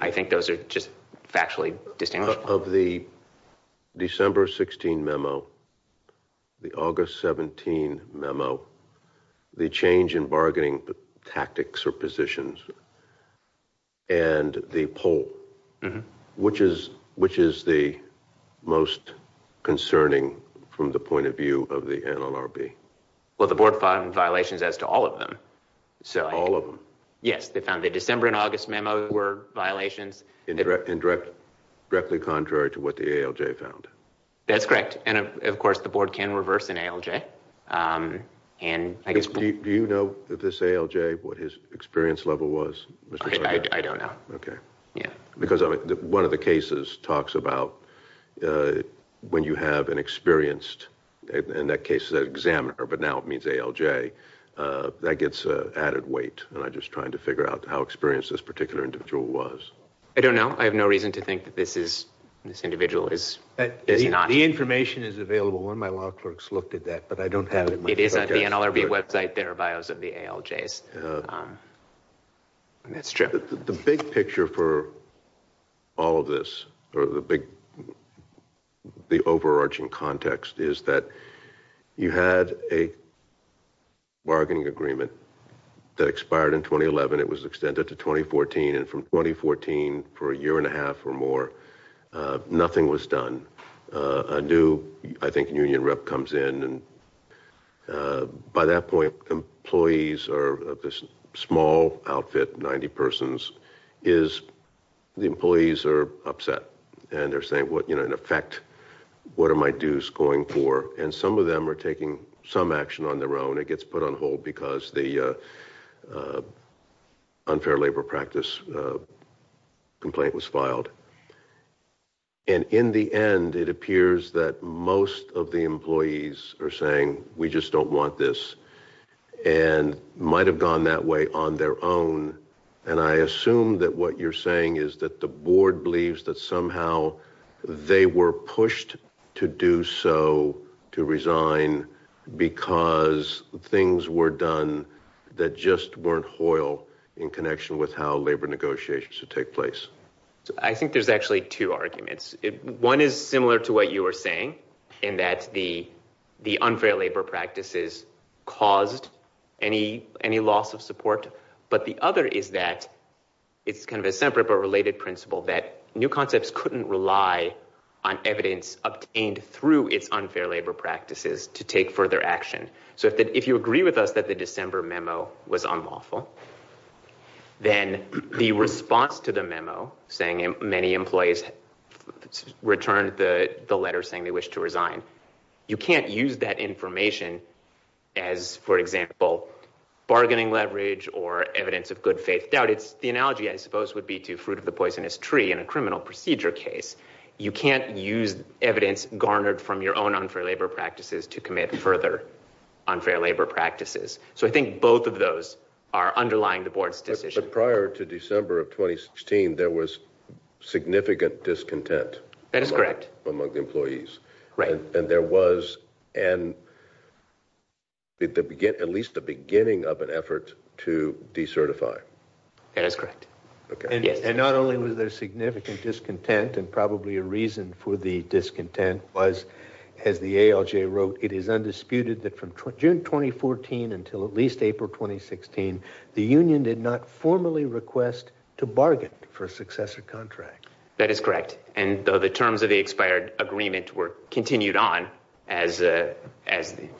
I think those are just factually distinguished of the December 16 memo, the August 17 memo, the change in bargaining tactics or positions and the poll, which is which is the most concerning from the point of view of the NLRB. Well, the board found violations as to all of them. So all of them. Yes, they found the December and August memo were violations in direct, directly contrary to what the ALJ found. That's correct. And of course, the board can reverse an ALJ. And I guess, do you know that this ALJ, what his experience level was? I don't know. Okay. Yeah. Because one of the cases talks about when you have an experienced, in that case, the examiner, but now it means ALJ, that gets added weight. And I just trying to figure out how experienced this particular individual was. I don't know. I have no reason to think that this is this individual is not. The information is available. One of my law clerks looked at that, but I don't have it. It is at the NLRB website. There are bios of the ALJs. That's true. The big picture for all of this or the big, the overarching context is that you had a bargaining agreement that expired in 2011. It was extended to 2014 and from 2014 for a year and a half or more, nothing was done. A new, I think, union rep comes in. And by that point, employees are of this small outfit, 90 persons, is the employees are upset. And they're saying, what, you know, in effect, what are my dues going for? And some of them are taking some action on their own. It gets put on hold because the unfair labor practice complaint was filed. And in the end, it appears that most of the employees are saying we just don't want this and might have gone that way on their own. And I assume that what you're saying is that the board believes that somehow they were pushed to do so to resign because things were done that just weren't hoiled in connection with how labor negotiations should take place. I think there's actually two arguments. One is similar to what you were saying in that the unfair labor practices caused any loss of support. But the other is that it's kind of a separate but related principle that new concepts couldn't rely on evidence obtained through its unfair labor practices to take further action. So if you agree with us that the December memo was unlawful, then the response to the memo saying many employees returned the letter saying they wish to resign, you can't use that information as, for example, bargaining leverage or evidence of good faith doubt. It's the analogy, I suppose, would be to fruit of the poisonous tree in a criminal procedure case. You can't use evidence garnered from your own unfair labor practices to commit further unfair labor practices. So I think both of those are underlying the board's decision. But prior to December of 2016, there was significant discontent. That is correct. Among the employees. Right. And there was at least the beginning of an effort to decertify. That is correct. Okay. And not only was there significant discontent and probably a reason for the discontent was, as the ALJ wrote, it is undisputed that from June 2014 until at least April 2016, the union did not formally request to bargain for a successor contract. That is correct. And the terms of the expired agreement were continued on as the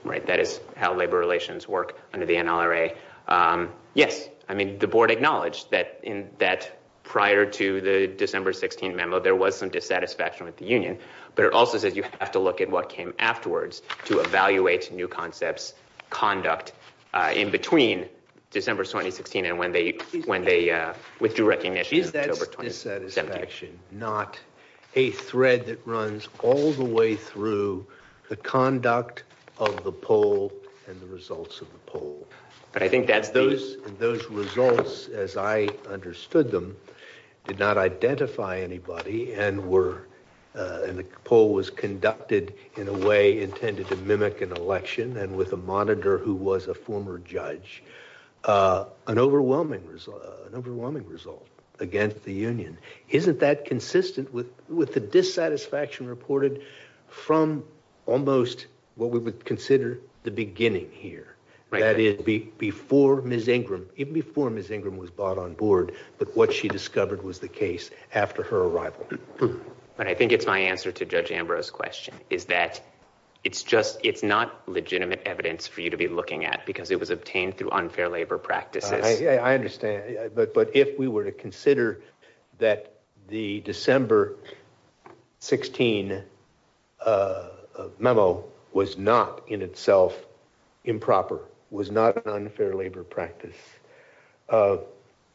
right. That is how labor relations work under the NRA. Yes. I mean, the board acknowledged that prior to the December 16 memo, there was some dissatisfaction with the union. But it also says you have to look at what came afterwards to evaluate new concepts, conduct in between December 2016 and when they withdrew recognition in October 2017. I think that's those. Those results, as I understood them, did not identify anybody and were in the poll was conducted in a way intended to mimic an election and with a monitor who was a former judge. An overwhelming result. An overwhelming result against the union. Isn't that consistent with the dissatisfaction reported from almost what we would consider the beginning here? That is before Ms. Ingram, even before Ms. Ingram was brought on board, but what she discovered was the case after her arrival. But I think it's my answer to Judge Ambrose's question is that it's just it's not legitimate evidence for you to be looking at because it was obtained through unfair labor practices. I understand. But if we were to consider that the December 16 memo was not in itself improper, was not an unfair labor practice,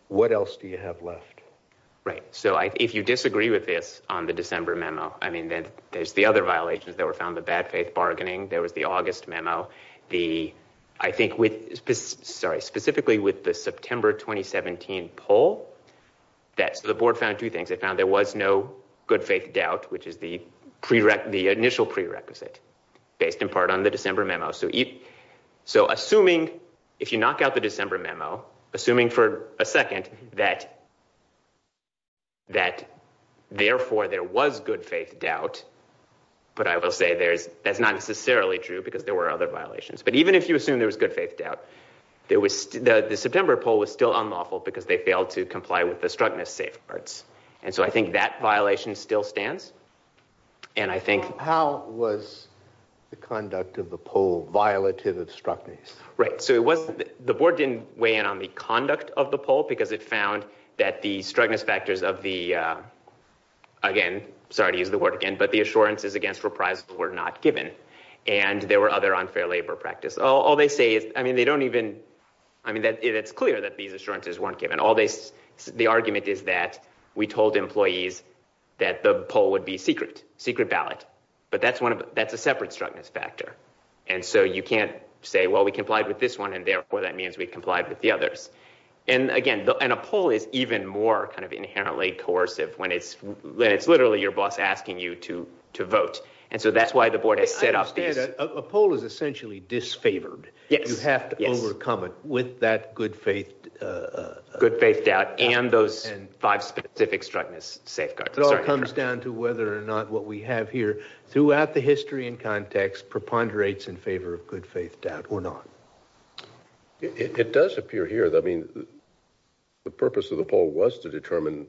what else do you have left? Right. So if you disagree with this on the December memo, I mean, there's the other violations that were found, the bad faith bargaining. There was the August memo. The I think with sorry, specifically with the September 2017 poll, that's the board found two things. I found there was no good faith doubt, which is the prerequisite, the initial prerequisite based in part on the December memo. So so assuming if you knock out the December memo, assuming for a second that. That therefore, there was good faith doubt, but I will say there's that's not necessarily true because there were other violations, but even if you assume there was good faith doubt, there was the September poll was still unlawful because they failed to comply with the struckness safeguards. And so I think that violation still stands. And I think how was the conduct of the poll violative of struckness? Right. So it was the board didn't weigh in on the conduct of the poll because it found that the struckness factors of the again, sorry to use the word again, but the assurances against reprisal were not given. And there were other unfair labor practice. All they say is, I mean, they don't even I mean, that it's clear that these assurances weren't given all this. The argument is that we told employees that the poll would be secret, secret ballot. But that's one of that's a separate struckness factor. And so you can't say, well, we complied with this one. And therefore, that means we complied with the others. And again, and a poll is even more kind of inherently coercive when it's when it's literally your boss asking you to to vote. And so that's why the board has set up a poll is essentially disfavored. You have to overcome it with that good faith, good faith doubt and those five specific struckness safeguards. It all comes down to whether or not what we have here throughout the history and context preponderates in favor of good faith doubt or not. It does appear here. I mean, the purpose of the poll was to determine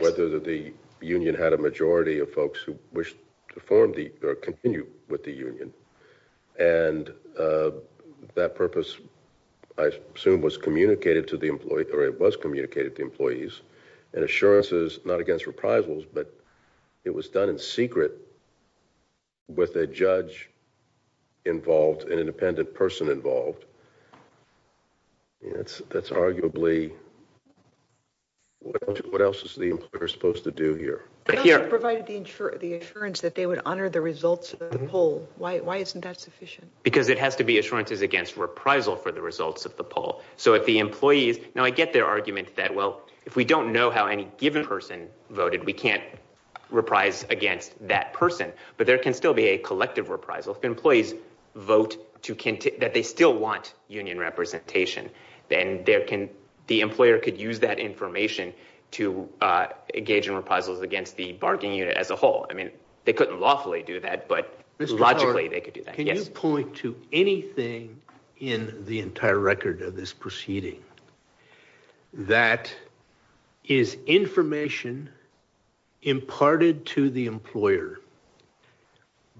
whether the union had a majority of folks who wish to form or continue with the union. And that purpose, I assume, was communicated to the employee or it was communicated to employees and assurances, not against reprisals, but it was done in secret with a judge involved, an independent person involved. That's that's arguably. What else is the employer supposed to do here? Here provided the insurance, the insurance that they would honor the results of the poll. Why? Why isn't that sufficient? Because it has to be assurances against reprisal for the results of the poll. So if the employees now I get their argument that, well, if we don't know how any given person voted, we can't reprise against that person. But there can still be a collective reprisal if employees vote to that they still want union representation. Then there can the employer could use that information to engage in reprisals against the bargaining unit as a whole. I mean, they couldn't lawfully do that, but logically they could do that. Can you point to anything in the entire record of this proceeding? That is information imparted to the employer.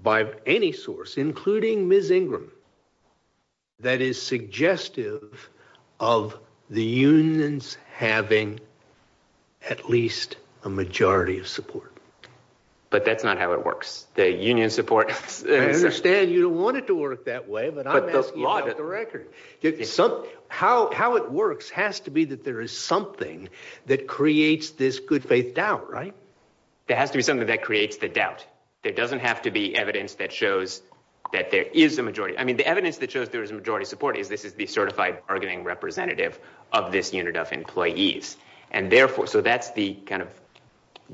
By any source, including Ms. Ingram. That is suggestive of the unions having. At least a majority of support, but that's not how it works. I understand you don't want it to work that way, but I'm asking about the record. How it works has to be that there is something that creates this good faith doubt, right? There has to be something that creates the doubt. There doesn't have to be evidence that shows that there is a majority. I mean, the evidence that shows there is a majority support is this is the certified bargaining representative of this unit of employees. So that's the kind of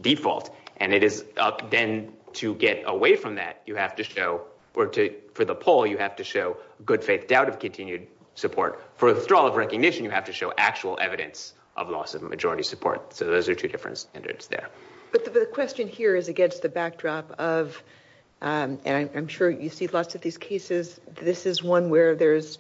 default, and it is up then to get away from that. You have to show for the poll, you have to show good faith doubt of continued support. For withdrawal of recognition, you have to show actual evidence of loss of majority support. So those are two different standards there. But the question here is against the backdrop of, and I'm sure you see lots of these cases. This is one where there's,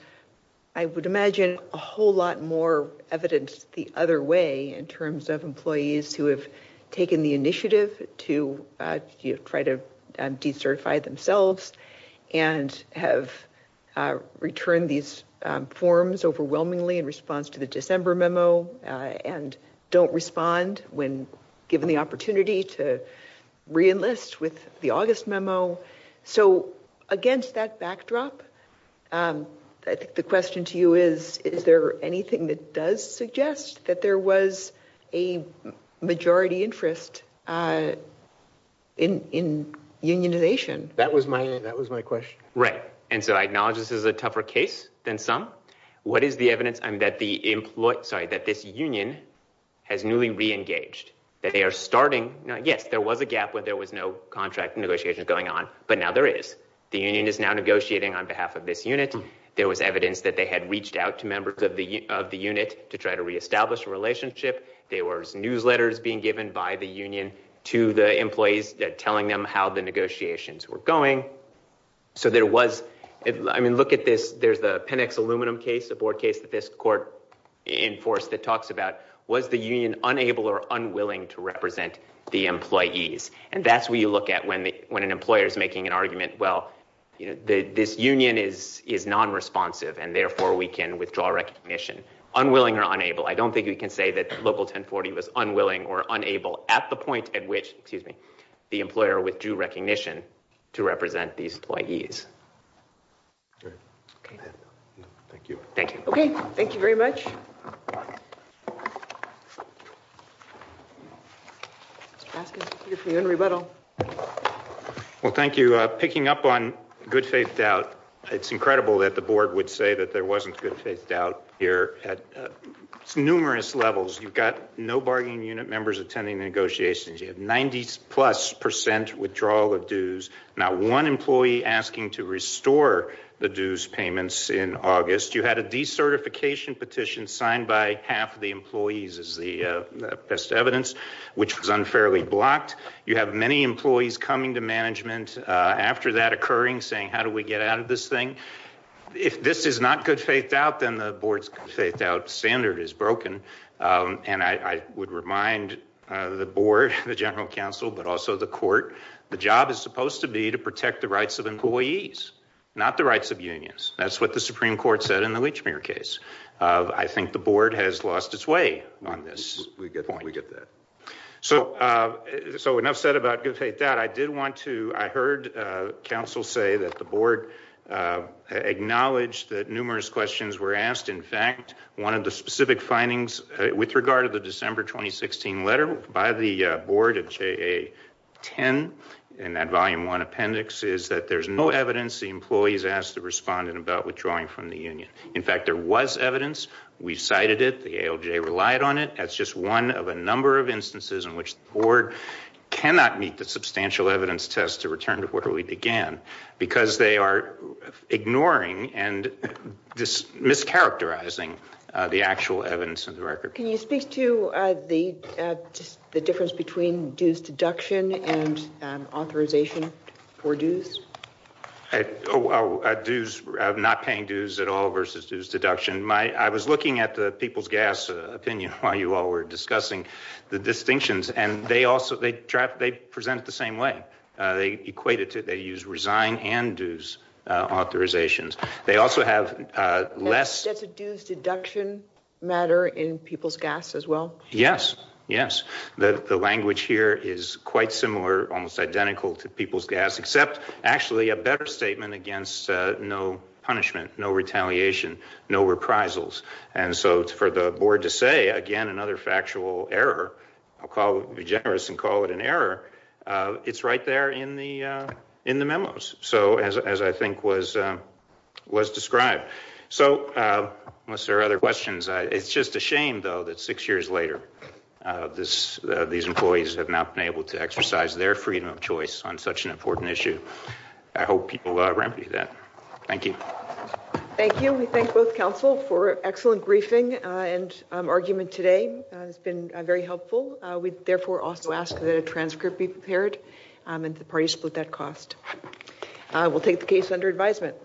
I would imagine, a whole lot more evidence the other way in terms of employees who have taken the initiative to try to decertify themselves. And have returned these forms overwhelmingly in response to the December memo. And don't respond when given the opportunity to reenlist with the August memo. So against that backdrop, the question to you is, is there anything that does suggest that there was a majority interest in unionization? That was my question. Right. And so I acknowledge this is a tougher case than some. What is the evidence that this union has newly reengaged? Yes, there was a gap where there was no contract negotiations going on, but now there is. The union is now negotiating on behalf of this unit. There was evidence that they had reached out to members of the unit to try to reestablish a relationship. There was newsletters being given by the union to the employees telling them how the negotiations were going. So there was, I mean, look at this. There's the Penix aluminum case, a board case that this court in force that talks about was the union unable or unwilling to represent the employees. And that's where you look at when the when an employer is making an argument. Well, you know, this union is is non responsive, and therefore we can withdraw recognition unwilling or unable. I don't think we can say that local 1040 was unwilling or unable at the point at which, excuse me, the employer withdrew recognition to represent these employees. All right. Thank you. Thank you. Okay. Thank you very much. Well, thank you. Picking up on good faith doubt. It's incredible that the board would say that there wasn't good faith doubt here at numerous levels. You've got no bargaining unit members attending negotiations. You have 90 plus percent withdrawal of dues. Not one employee asking to restore the dues payments in August. You had a decertification petition signed by half the employees as the best evidence, which was unfairly blocked. You have many employees coming to management after that occurring, saying, how do we get out of this thing? If this is not good faith doubt, then the board's faith out standard is broken. And I would remind the board, the general counsel, but also the court. The job is supposed to be to protect the rights of employees, not the rights of unions. That's what the Supreme Court said in the Lechmere case. I think the board has lost its way on this. We get that. So. So enough said about good faith doubt. I did want to. I heard counsel say that the board acknowledged that numerous questions were asked. In fact, one of the specific findings with regard to the December 2016 letter by the board of J.A. 10. And that volume one appendix is that there's no evidence. The employees asked the respondent about withdrawing from the union. In fact, there was evidence. We cited it. The ALJ relied on it. That's just one of a number of instances in which the board cannot meet the substantial evidence test to return to where we began. Because they are ignoring and mischaracterizing the actual evidence of the record. Can you speak to the difference between dues deduction and authorization for dues? Dues, not paying dues at all versus dues deduction. I was looking at the people's gas opinion while you all were discussing the distinctions. And they also, they present it the same way. They equate it to, they use resign and dues authorizations. They also have less. Does a dues deduction matter in people's gas as well? Yes, yes. The language here is quite similar, almost identical to people's gas, except actually a better statement against no punishment, no retaliation, no reprisals. And so for the board to say, again, another factual error, I'll be generous and call it an error. It's right there in the memos. So as I think was described. So unless there are other questions, it's just a shame, though, that six years later these employees have not been able to exercise their freedom of choice on such an important issue. I hope people remedy that. Thank you. Thank you. We thank both counsel for an excellent briefing and argument today. It's been very helpful. We therefore also ask that a transcript be prepared and that the parties split that cost. We'll take the case under advisement.